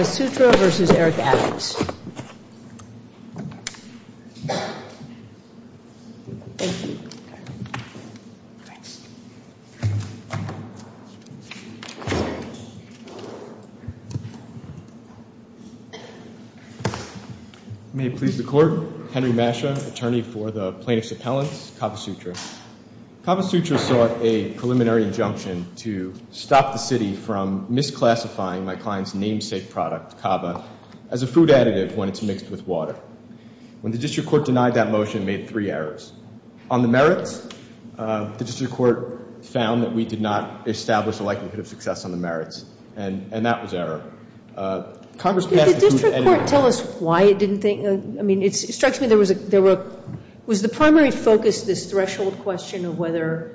May it please the Court, Henry Mascia, Attorney for the Plaintiff's Appellants, Kavasutra. Kavasutra sought a preliminary injunction to stop the City from misclassifying my client's namesake product, kava, as a food additive when it's mixed with water. When the District Court denied that motion, it made three errors. On the merits, the District Court found that we did not establish a likelihood of success on the merits, and that was error. Congress passed the motion anyway. Can the District Court tell us why it didn't think, I mean, it strikes me there was a, there were, was the primary focus this threshold question of whether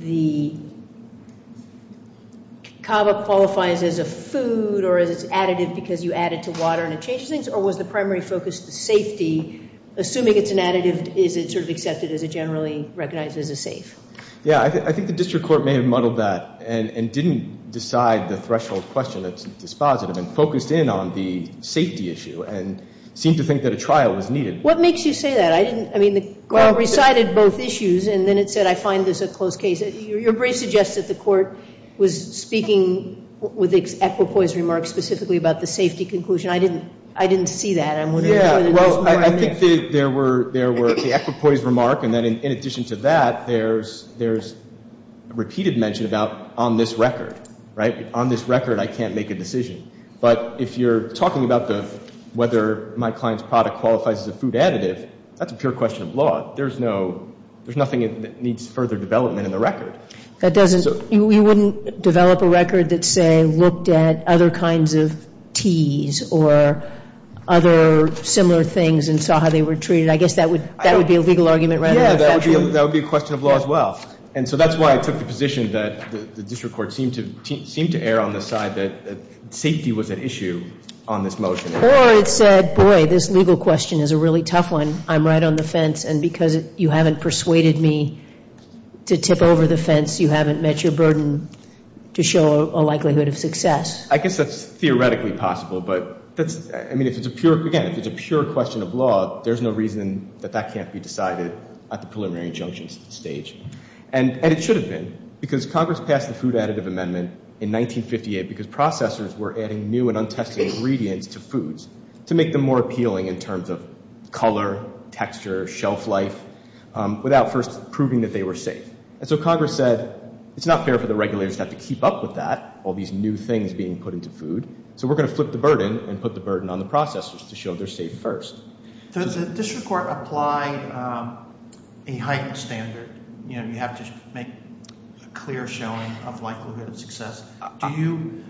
the kava qualifies as a food or as an additive because you add it to water and it changes things, or was the primary focus the safety, assuming it's an additive, is it sort of accepted as a generally recognized as a safe? Yeah, I think the District Court may have muddled that and didn't decide the threshold question that's dispositive and focused in on the safety issue and seemed to think that a trial was needed. What makes you say that? I didn't, I mean, the Court recited both issues and then it said I find this a close case. Your brief suggests that the Court was speaking with the Equipoise remark specifically about the safety conclusion. I didn't, I didn't see that. I'm wondering whether there's more on this. Yeah, well, I think there were, there were the Equipoise remark and then in addition to that, there's, there's repeated mention about on this record, right? On this record, I can't make a decision, but if you're talking about the, whether my client's product qualifies as a food additive, that's a pure question of law. There's no, there's nothing that needs further development in the record. That doesn't, you wouldn't develop a record that say looked at other kinds of teas or other similar things and saw how they were treated. I guess that would, that would be a legal argument rather than a factual. Yeah, that would be, that would be a question of law as well. And so that's why I took the position that the district court seemed to, seemed to err on the side that safety was at issue on this motion. Or it said, boy, this legal question is a really tough one. I'm right on the fence and because you haven't persuaded me to tip over the fence, you haven't met your burden to show a likelihood of success. I guess that's theoretically possible, but that's, I mean, if it's a pure, again, if it's a pure question of law, there's no reason that that can't be decided at the preliminary junctions stage. And it should have been, because Congress passed the Food Additive Amendment in 1958 because processors were adding new and untested ingredients to foods to make them more appealing in terms of color, texture, shelf life, without first proving that they were safe. And so Congress said, it's not fair for the regulators to have to keep up with that, all these new things being put into food. So we're going to flip the burden and put the burden on the processors to show they're safe first. Does the district court apply a heightened standard? You have to make a clear showing of likelihood of success. Do you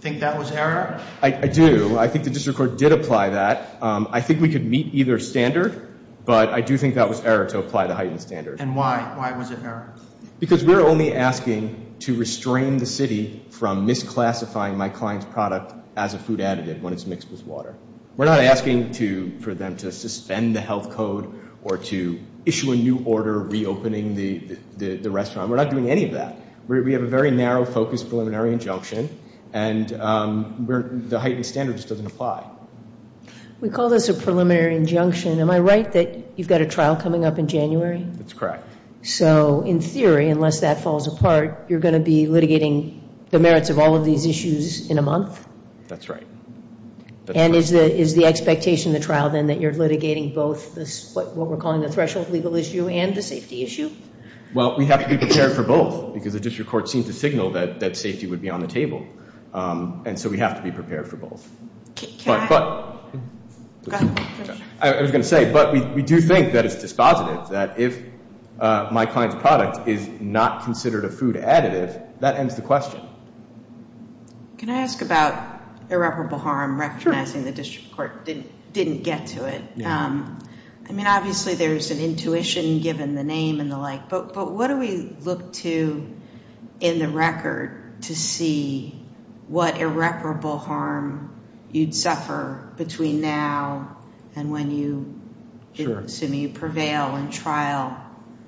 think that was error? I do, I think the district court did apply that. I think we could meet either standard, but I do think that was error to apply the heightened standard. And why, why was it error? Because we're only asking to restrain the city from misclassifying my client's product as a food additive when it's mixed with water. We're not asking for them to suspend the health code or to issue a new order reopening the restaurant. We're not doing any of that. We have a very narrow focus preliminary injunction and the heightened standard just doesn't apply. We call this a preliminary injunction. Am I right that you've got a trial coming up in January? That's correct. So in theory, unless that falls apart, you're going to be litigating the merits of all of these issues in a month? That's right. And is the expectation of the trial then that you're litigating both what we're calling the threshold legal issue and the safety issue? Well, we have to be prepared for both because the district court seems to signal that safety would be on the table. And so we have to be prepared for both. But I was going to say, but we do think that it's dispositive, that if my client's product is not considered a food additive, that ends the question. Can I ask about irreparable harm, recognizing the district court didn't get to it? I mean, obviously there's an intuition given the name and the like, but what do we look to in the record to see what irreparable harm you'd suffer between now and when you, assuming you prevail in trial?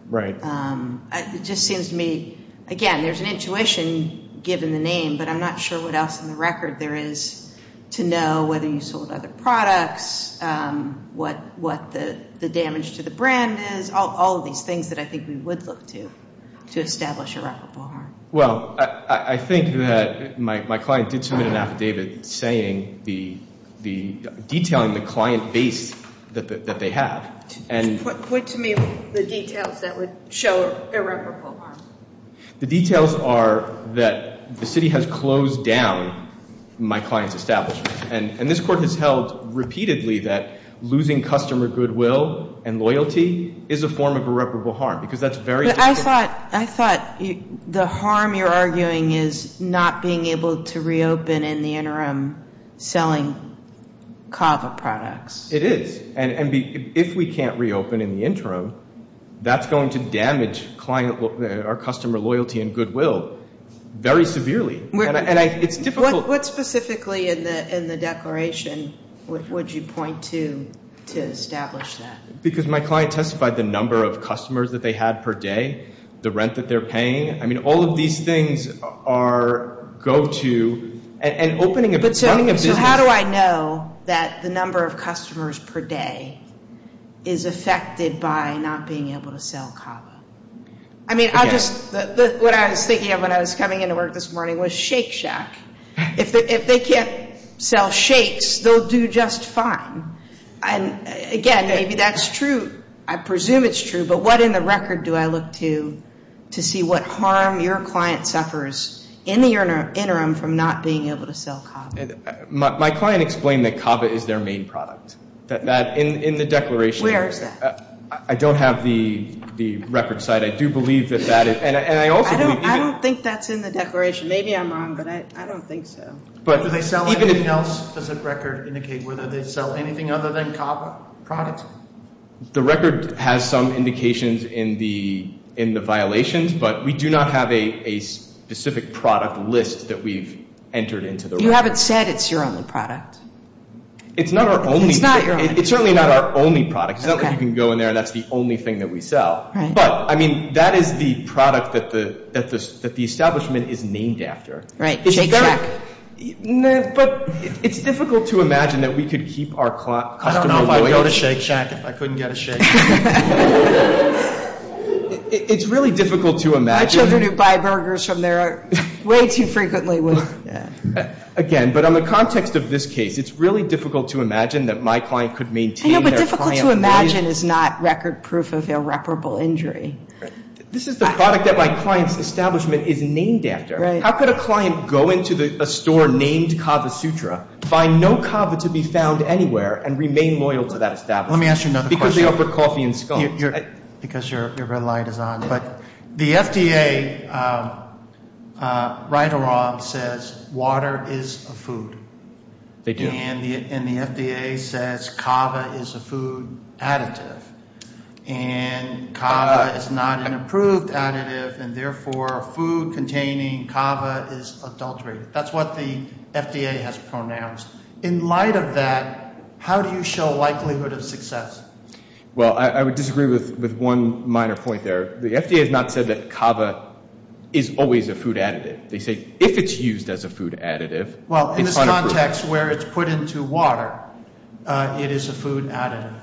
Right. It just seems to me, again, there's an intuition given the name, but I'm not sure what else in the record there is to know, whether you sold other products, what the damage to the brand is, all of these things that I think we would look to to establish irreparable harm. Well, I think that my client did submit an affidavit detailing the client base that they have. Point to me the details that would show irreparable harm. The details are that the city has closed down my client's establishment. And this court has held repeatedly that losing customer goodwill and loyalty is a form of irreparable harm, because that's very difficult. But I thought the harm you're arguing is not being able to reopen in the interim selling CAVA products. It is. And if we can't reopen in the interim, that's going to damage our customer loyalty and goodwill very severely. And it's difficult. What specifically in the declaration would you point to to establish that? Because my client testified the number of customers that they had per day, the rent that they're paying. I mean, all of these things are go-to. So how do I know that the number of customers per day is affected by not being able to sell CAVA? I mean, what I was thinking of when I was coming into work this morning was Shake Shack. If they can't sell shakes, they'll do just fine. And, again, maybe that's true. I presume it's true, but what in the record do I look to to see what harm your client suffers in the interim from not being able to sell CAVA? My client explained that CAVA is their main product. In the declaration. Where is that? I don't have the record site. I do believe that that is. And I also believe. I don't think that's in the declaration. Maybe I'm wrong, but I don't think so. Do they sell anything else? Does the record indicate whether they sell anything other than CAVA products? The record has some indications in the violations, but we do not have a specific product list that we've entered into the record. You haven't said it's your only product. It's not our only. It's not your only. It's certainly not our only product. It's not like you can go in there and that's the only thing that we sell. But, I mean, that is the product that the establishment is named after. Right. Shake Shack. But it's difficult to imagine that we could keep our customer voice. I don't know if I would go to Shake Shack if I couldn't get a shake. It's really difficult to imagine. My children who buy burgers from there are way too frequently with. Again, but on the context of this case, it's really difficult to imagine that my client could maintain their client base. I know, but difficult to imagine is not record proof of irreparable injury. This is the product that my client's establishment is named after. Right. How could a client go into a store named Kava Sutra, find no kava to be found anywhere, and remain loyal to that establishment? Let me ask you another question. Because they offer coffee and scones. Because your red light is on. But the FDA, right or wrong, says water is a food. They do. And the FDA says kava is a food additive. And kava is not an approved additive, and therefore food containing kava is adultery. That's what the FDA has pronounced. In light of that, how do you show likelihood of success? Well, I would disagree with one minor point there. The FDA has not said that kava is always a food additive. They say if it's used as a food additive, it's unapproved. Well, in this context where it's put into water, it is a food additive.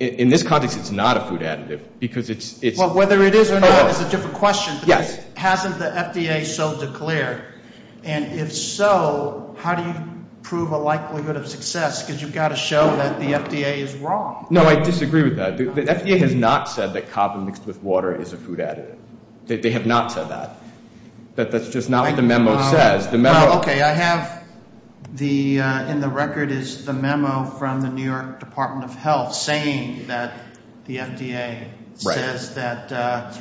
In this context, it's not a food additive. Well, whether it is or not is a different question. But hasn't the FDA so declared? And if so, how do you prove a likelihood of success? Because you've got to show that the FDA is wrong. No, I disagree with that. The FDA has not said that kava mixed with water is a food additive. They have not said that. That's just not what the memo says. Well, okay, I have in the record is the memo from the New York Department of Health saying that the FDA says that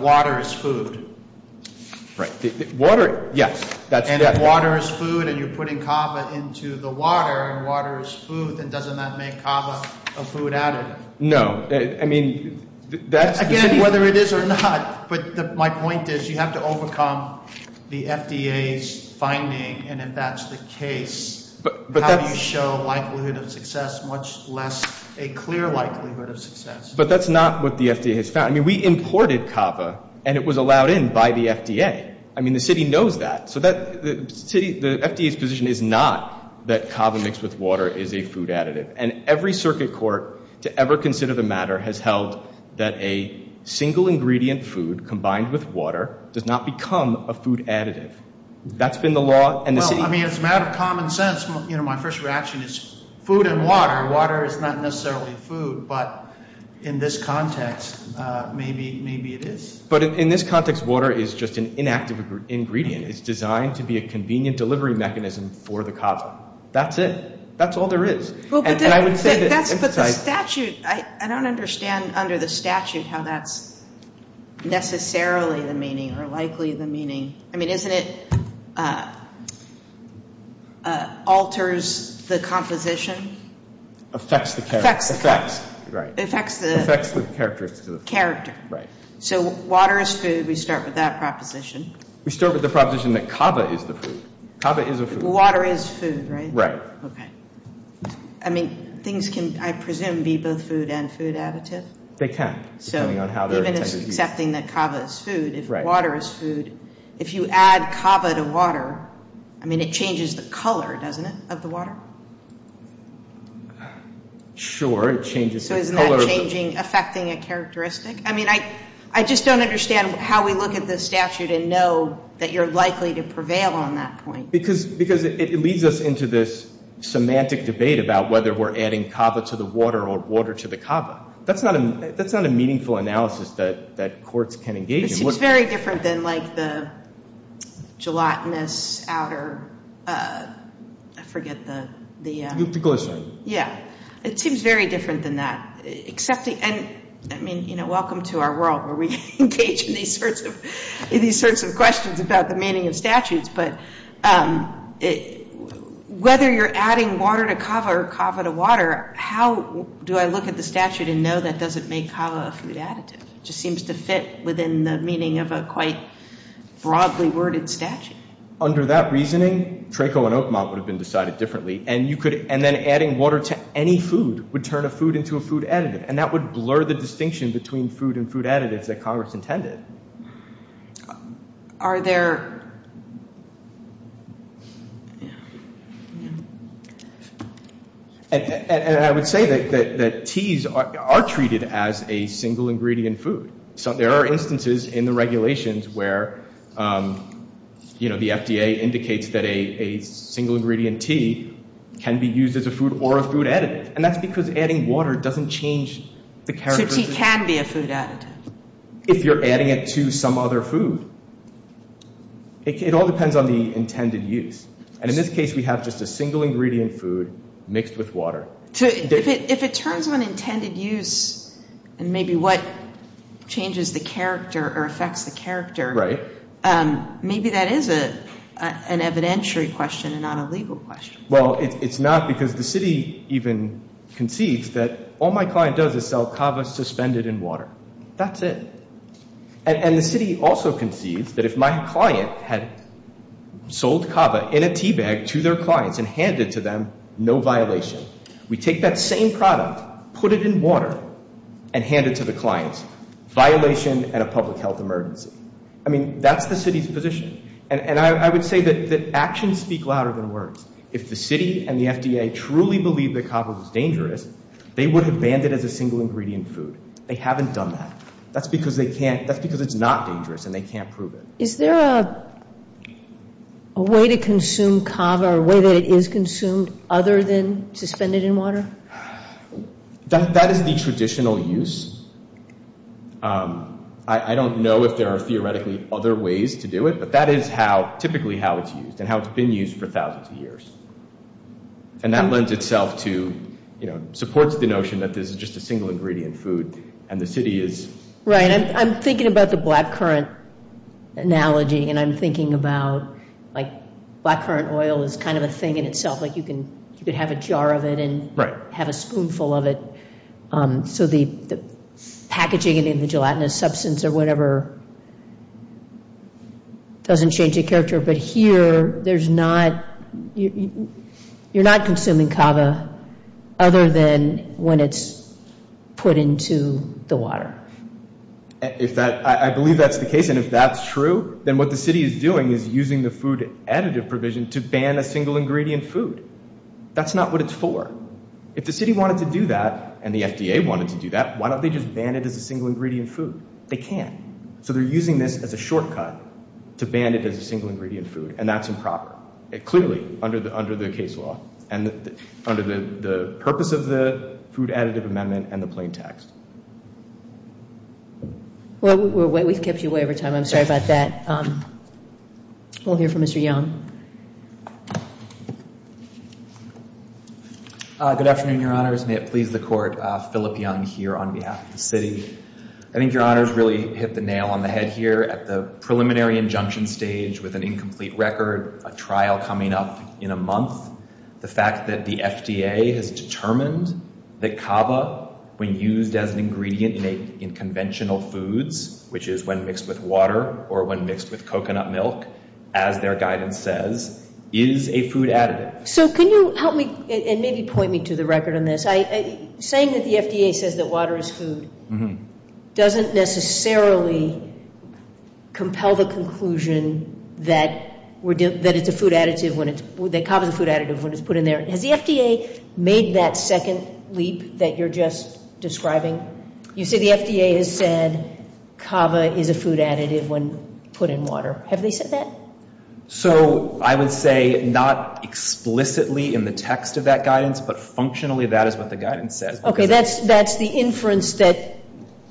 water is food. Water, yes. And water is food, and you're putting kava into the water, and water is food. Then doesn't that make kava a food additive? No. Again, whether it is or not. But my point is you have to overcome the FDA's finding, and if that's the case, how do you show likelihood of success, much less a clear likelihood of success? But that's not what the FDA has found. I mean, we imported kava, and it was allowed in by the FDA. I mean, the city knows that. So the FDA's position is not that kava mixed with water is a food additive. And every circuit court to ever consider the matter has held that a single ingredient food combined with water does not become a food additive. That's been the law. Well, I mean, it's a matter of common sense. You know, my first reaction is food and water. Water is not necessarily food. But in this context, maybe it is. But in this context, water is just an inactive ingredient. It's designed to be a convenient delivery mechanism for the kava. That's it. That's all there is. But the statute, I don't understand under the statute how that's necessarily the meaning or likely the meaning. I mean, isn't it alters the composition? Affects the character. Affects the character. So water is food. We start with that proposition. We start with the proposition that kava is the food. Kava is a food. Water is food, right? Right. I mean, things can, I presume, be both food and food additive? They can. So even if it's accepting that kava is food, if water is food, if you add kava to water, I mean, it changes the color, doesn't it, of the water? Sure. It changes the color. So isn't that changing, affecting a characteristic? I mean, I just don't understand how we look at this statute and know that you're likely to prevail on that point. Because it leads us into this semantic debate about whether we're adding kava to the water or water to the kava. That's not a meaningful analysis that courts can engage in. It seems very different than like the gelatinous outer, I forget the... The glycerin. Yeah. It seems very different than that. I mean, welcome to our world where we engage in these sorts of questions about the meaning of statutes. But whether you're adding water to kava or kava to water, how do I look at the statute and know that doesn't make kava a food additive? It just seems to fit within the meaning of a quite broadly worded statute. Under that reasoning, Treko and Oakmont would have been decided differently. And then adding water to any food would turn a food into a food additive. And that would blur the distinction between food and food additives that Congress intended. Are there... And I would say that teas are treated as a single ingredient food. There are instances in the regulations where the FDA indicates that a single ingredient tea can be used as a food or a food additive. And that's because adding water doesn't change the characteristics. So tea can be a food additive. If you're adding it to some other food. It all depends on the intended use. And in this case, we have just a single ingredient food mixed with water. If it turns on intended use and maybe what changes the character or affects the character... Maybe that is an evidentiary question and not a legal question. Well, it's not because the city even concedes that all my client does is sell kava suspended in water. That's it. And the city also concedes that if my client had sold kava in a tea bag to their clients and handed to them, no violation. We take that same product, put it in water, and hand it to the clients. Violation and a public health emergency. I mean, that's the city's position. And I would say that actions speak louder than words. If the city and the FDA truly believed that kava was dangerous, they would have banned it as a single ingredient food. They haven't done that. That's because they can't. That's because it's not dangerous and they can't prove it. Is there a way to consume kava or a way that it is consumed other than suspended in water? That is the traditional use. I don't know if there are theoretically other ways to do it. But that is typically how it's used and how it's been used for thousands of years. And that lends itself to, you know, supports the notion that this is just a single ingredient food. And the city is... Right. I'm thinking about the blackcurrant analogy and I'm thinking about, like, blackcurrant oil is kind of a thing in itself. Like, you can have a jar of it and have a spoonful of it. So the packaging in the gelatinous substance or whatever doesn't change the character. But here, there's not... You're not consuming kava other than when it's put into the water. I believe that's the case. And if that's true, then what the city is doing is using the food additive provision to ban a single ingredient food. That's not what it's for. If the city wanted to do that and the FDA wanted to do that, why don't they just ban it as a single ingredient food? They can't. So they're using this as a shortcut to ban it as a single ingredient food. And that's improper. Clearly, under the case law and under the purpose of the food additive amendment and the plain text. Well, we've kept you away over time. I'm sorry about that. We'll hear from Mr. Young. Good afternoon, Your Honors. May it please the Court, Philip Young here on behalf of the city. I think Your Honors really hit the nail on the head here at the preliminary injunction stage with an incomplete record, a trial coming up in a month. The fact that the FDA has determined that kava, when used as an ingredient in conventional foods, which is when mixed with water or when mixed with coconut milk, as their guidance says, is a food additive. So can you help me and maybe point me to the record on this? Saying that the FDA says that water is food. Doesn't necessarily compel the conclusion that kava is a food additive when it's put in there. Has the FDA made that second leap that you're just describing? You say the FDA has said kava is a food additive when put in water. Have they said that? So I would say not explicitly in the text of that guidance, but functionally that is what the guidance says. Okay, that's the inference that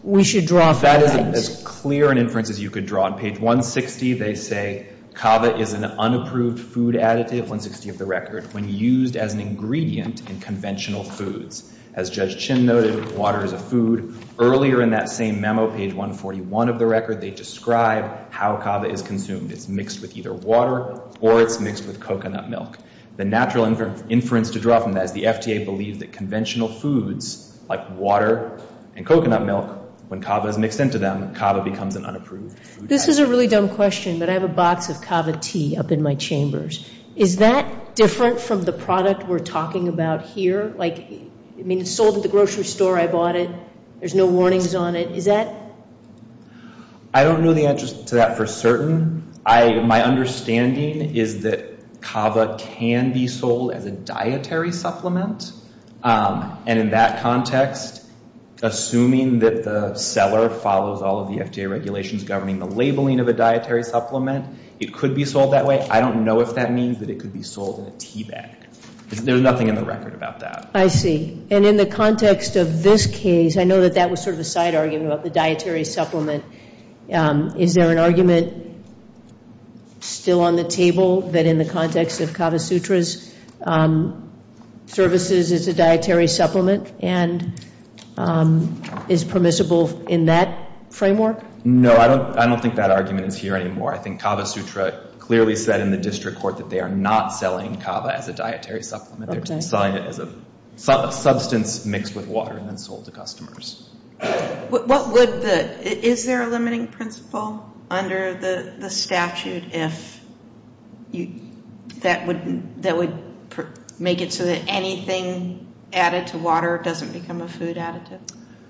we should draw from that. That is as clear an inference as you could draw. On page 160, they say kava is an unapproved food additive, 160 of the record, when used as an ingredient in conventional foods. As Judge Chin noted, water is a food. Earlier in that same memo, page 141 of the record, they describe how kava is consumed. It's mixed with either water or it's mixed with coconut milk. The natural inference to draw from that is the FDA believed that conventional foods like water and coconut milk, when kava is mixed into them, kava becomes an unapproved food additive. This is a really dumb question, but I have a box of kava tea up in my chambers. Is that different from the product we're talking about here? Like, I mean, it's sold at the grocery store. I bought it. There's no warnings on it. Is that? I don't know the answer to that for certain. My understanding is that kava can be sold as a dietary supplement, and in that context, assuming that the seller follows all of the FDA regulations governing the labeling of a dietary supplement, it could be sold that way. I don't know if that means that it could be sold in a teabag. There's nothing in the record about that. I see. And in the context of this case, I know that that was sort of a side argument about the dietary supplement. Is there an argument still on the table that in the context of Kavasutra's services, it's a dietary supplement and is permissible in that framework? No, I don't think that argument is here anymore. I think Kavasutra clearly said in the district court that they are not selling kava as a dietary supplement. They're selling it as a substance mixed with water and then sold to customers. Is there a limiting principle under the statute that would make it so that anything added to water doesn't become a food additive?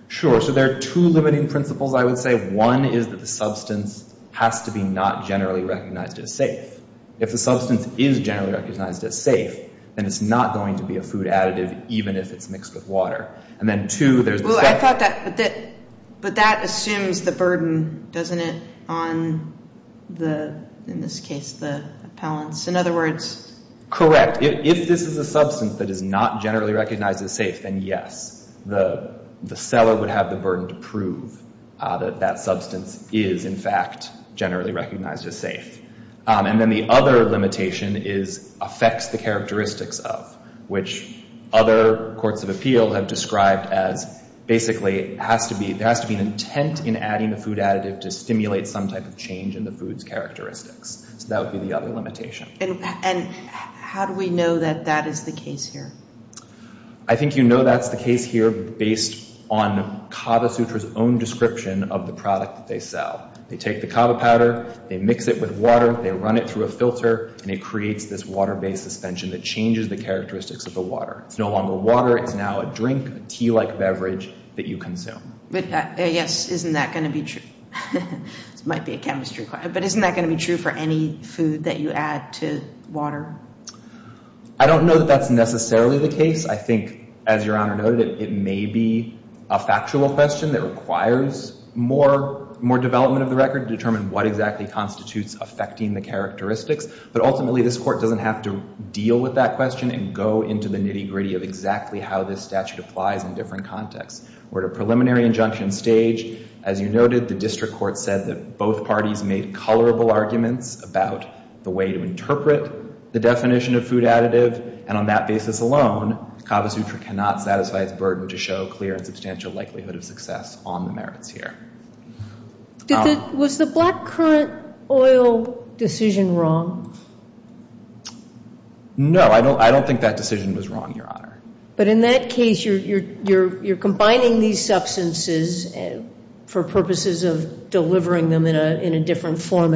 Sure. So there are two limiting principles, I would say. One is that the substance has to be not generally recognized as safe. If the substance is generally recognized as safe, then it's not going to be a food additive even if it's mixed with water. And then, two, there's the— Well, I thought that—but that assumes the burden, doesn't it, on the—in this case, the appellants? In other words— Correct. If this is a substance that is not generally recognized as safe, then yes, the seller would have the burden to prove that that substance is, in fact, generally recognized as safe. And then the other limitation is affects the characteristics of, which other courts of appeal have described as basically has to be— there has to be an intent in adding a food additive to stimulate some type of change in the food's characteristics. So that would be the other limitation. And how do we know that that is the case here? I think you know that's the case here based on Kavasutra's own description of the product that they sell. They take the kava powder, they mix it with water, they run it through a filter, and it creates this water-based suspension that changes the characteristics of the water. It's no longer water. It's now a drink, a tea-like beverage that you consume. But, yes, isn't that going to be true? This might be a chemistry question, but isn't that going to be true for any food that you add to water? I don't know that that's necessarily the case. I think, as Your Honor noted, it may be a factual question that requires more development of the record to determine what exactly constitutes affecting the characteristics. But, ultimately, this Court doesn't have to deal with that question and go into the nitty-gritty of exactly how this statute applies in different contexts. We're at a preliminary injunction stage. As you noted, the district court said that both parties made colorable arguments about the way to interpret the definition of food additive. And, on that basis alone, Kavasutra cannot satisfy its burden to show clear and substantial likelihood of success on the merits here. Was the black currant oil decision wrong? No, I don't think that decision was wrong, Your Honor. But, in that case, you're combining these substances for purposes of delivering them in a different form.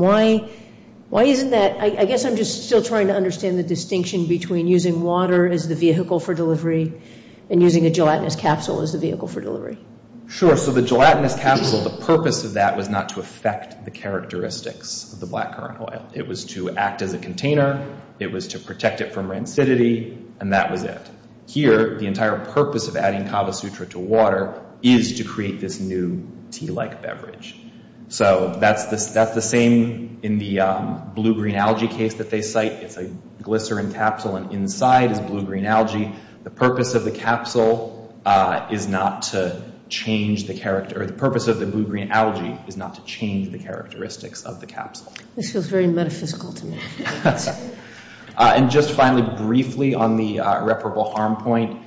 Why isn't that? I guess I'm just still trying to understand the distinction between using water as the vehicle for delivery and using a gelatinous capsule as the vehicle for delivery. Sure. So, the gelatinous capsule, the purpose of that was not to affect the characteristics of the black currant oil. It was to act as a container. It was to protect it from rancidity. And that was it. Here, the entire purpose of adding Kavasutra to water is to create this new tea-like beverage. So, that's the same in the blue-green algae case that they cite. It's a glycerin capsule, and inside is blue-green algae. The purpose of the capsule is not to change the character, or the purpose of the blue-green algae is not to change the characteristics of the capsule. This feels very metaphysical to me. And, just finally, briefly, on the reparable harm point,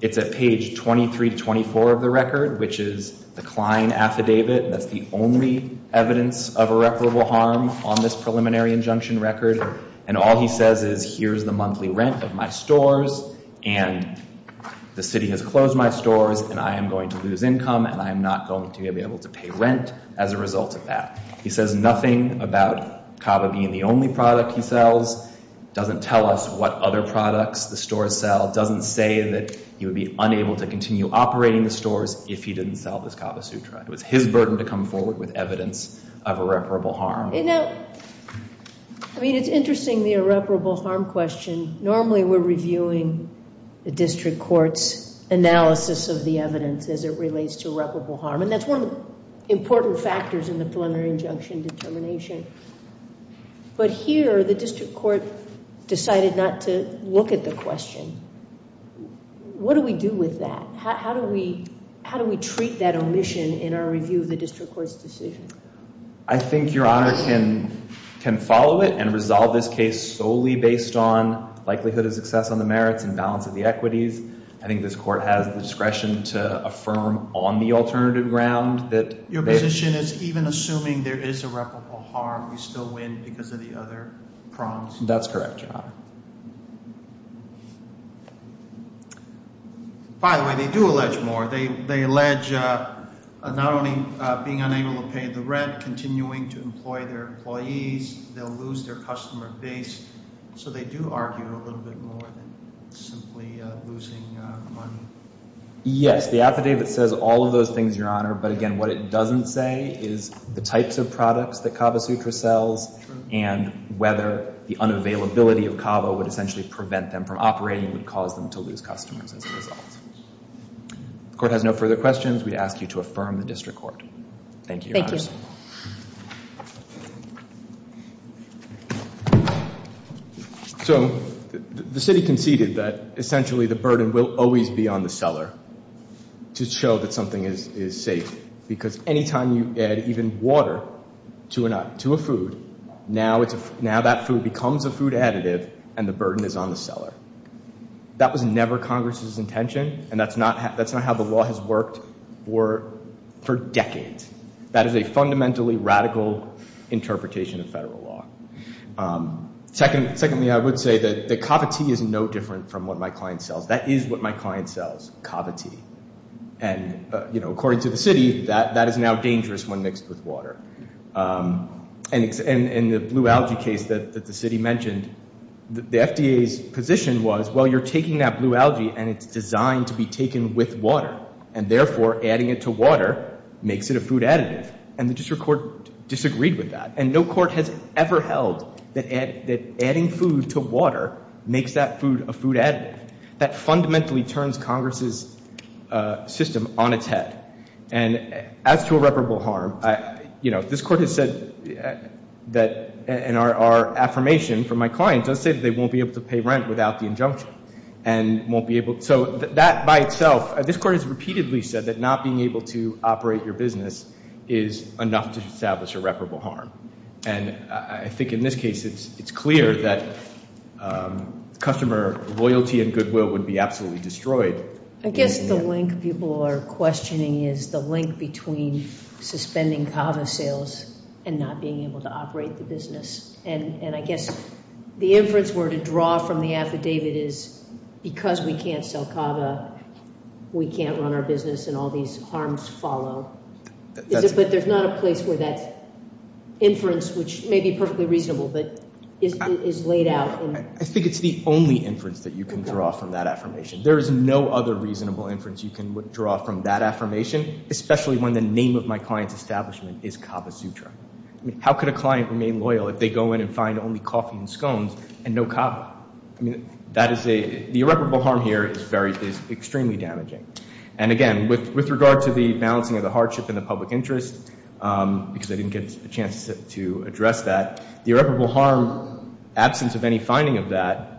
it's at page 23 to 24 of the record, which is the Klein Affidavit. That's the only evidence of irreparable harm on this preliminary injunction record. And all he says is, here's the monthly rent of my stores, and the city has closed my stores, and I am going to lose income, and I am not going to be able to pay rent as a result of that. He says nothing about Kava being the only product he sells. Doesn't tell us what other products the stores sell. Doesn't say that he would be unable to continue operating the stores if he didn't sell this Kava Sutra. It was his burden to come forward with evidence of irreparable harm. You know, I mean, it's interesting, the irreparable harm question. Normally, we're reviewing the district court's analysis of the evidence as it relates to irreparable harm, and that's one of the important factors in the preliminary injunction determination. But here, the district court decided not to look at the question. What do we do with that? How do we treat that omission in our review of the district court's decision? I think Your Honor can follow it and resolve this case solely based on likelihood of success on the merits and balance of the equities. I think this court has the discretion to affirm on the alternative ground that— The omission is even assuming there is irreparable harm. We still win because of the other prongs. That's correct, Your Honor. By the way, they do allege more. They allege not only being unable to pay the rent, continuing to employ their employees. They'll lose their customer base. So they do argue a little bit more than simply losing money. Yes, the affidavit says all of those things, Your Honor. But again, what it doesn't say is the types of products that Kava Sutra sells and whether the unavailability of Kava would essentially prevent them from operating and would cause them to lose customers as a result. If the court has no further questions, we'd ask you to affirm the district court. Thank you, Your Honor. So the city conceded that essentially the burden will always be on the seller to show that something is safe because anytime you add even water to a food, now that food becomes a food additive and the burden is on the seller. That was never Congress's intention, and that's not how the law has worked for decades. That is a fundamentally radical interpretation of federal law. Secondly, I would say that the Kava tea is no different from what my client sells. That is what my client sells, Kava tea. And according to the city, that is now dangerous when mixed with water. In the blue algae case that the city mentioned, the FDA's position was, well, you're taking that blue algae and it's designed to be taken with water, and therefore adding it to water makes it a food additive, and the district court disagreed with that. And no court has ever held that adding food to water makes that food a food additive. That fundamentally turns Congress's system on its head. And as to irreparable harm, you know, this court has said that, and our affirmation from my client does say that they won't be able to pay rent without the injunction and won't be able to. So that by itself, this court has repeatedly said that not being able to operate your business is enough to establish irreparable harm. And I think in this case it's clear that customer loyalty and goodwill would be absolutely destroyed. I guess the link people are questioning is the link between suspending Kava sales and not being able to operate the business. And I guess the inference we're to draw from the affidavit is because we can't sell Kava, we can't run our business, and all these harms follow. But there's not a place where that inference, which may be perfectly reasonable, but is laid out. I think it's the only inference that you can draw from that affirmation. There is no other reasonable inference you can draw from that affirmation, especially when the name of my client's establishment is Kava Sutra. How could a client remain loyal if they go in and find only coffee and scones and no Kava? The irreparable harm here is extremely damaging. And again, with regard to the balancing of the hardship and the public interest, because I didn't get a chance to address that, the irreparable harm absence of any finding of that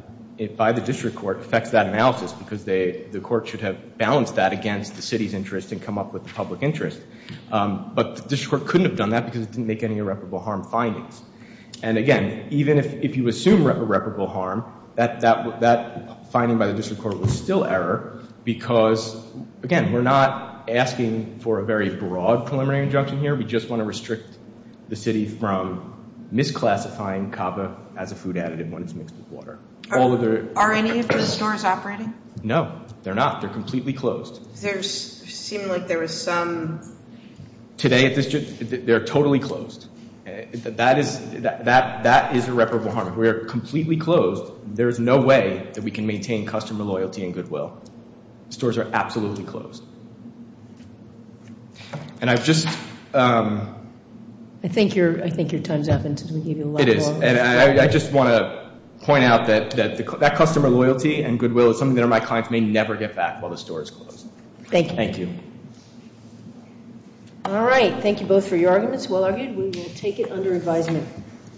by the district court affects that analysis because the court should have balanced that against the city's interest and come up with the public interest. But the district court couldn't have done that because it didn't make any irreparable harm findings. And again, even if you assume irreparable harm, that finding by the district court was still error because, again, we're not asking for a very broad preliminary injunction here. We just want to restrict the city from misclassifying Kava as a food additive when it's mixed with water. Are any of the stores operating? No, they're not. They're completely closed. There seemed like there was some... Today at this district, they're totally closed. That is irreparable harm. We are completely closed. There is no way that we can maintain customer loyalty and goodwill. Stores are absolutely closed. And I've just... I think your time's up. It is. And I just want to point out that that customer loyalty and goodwill is something that my clients may never get back while the store is closed. Thank you. Thank you. All right. Thank you both for your arguments. Well argued. We will take it under advisement.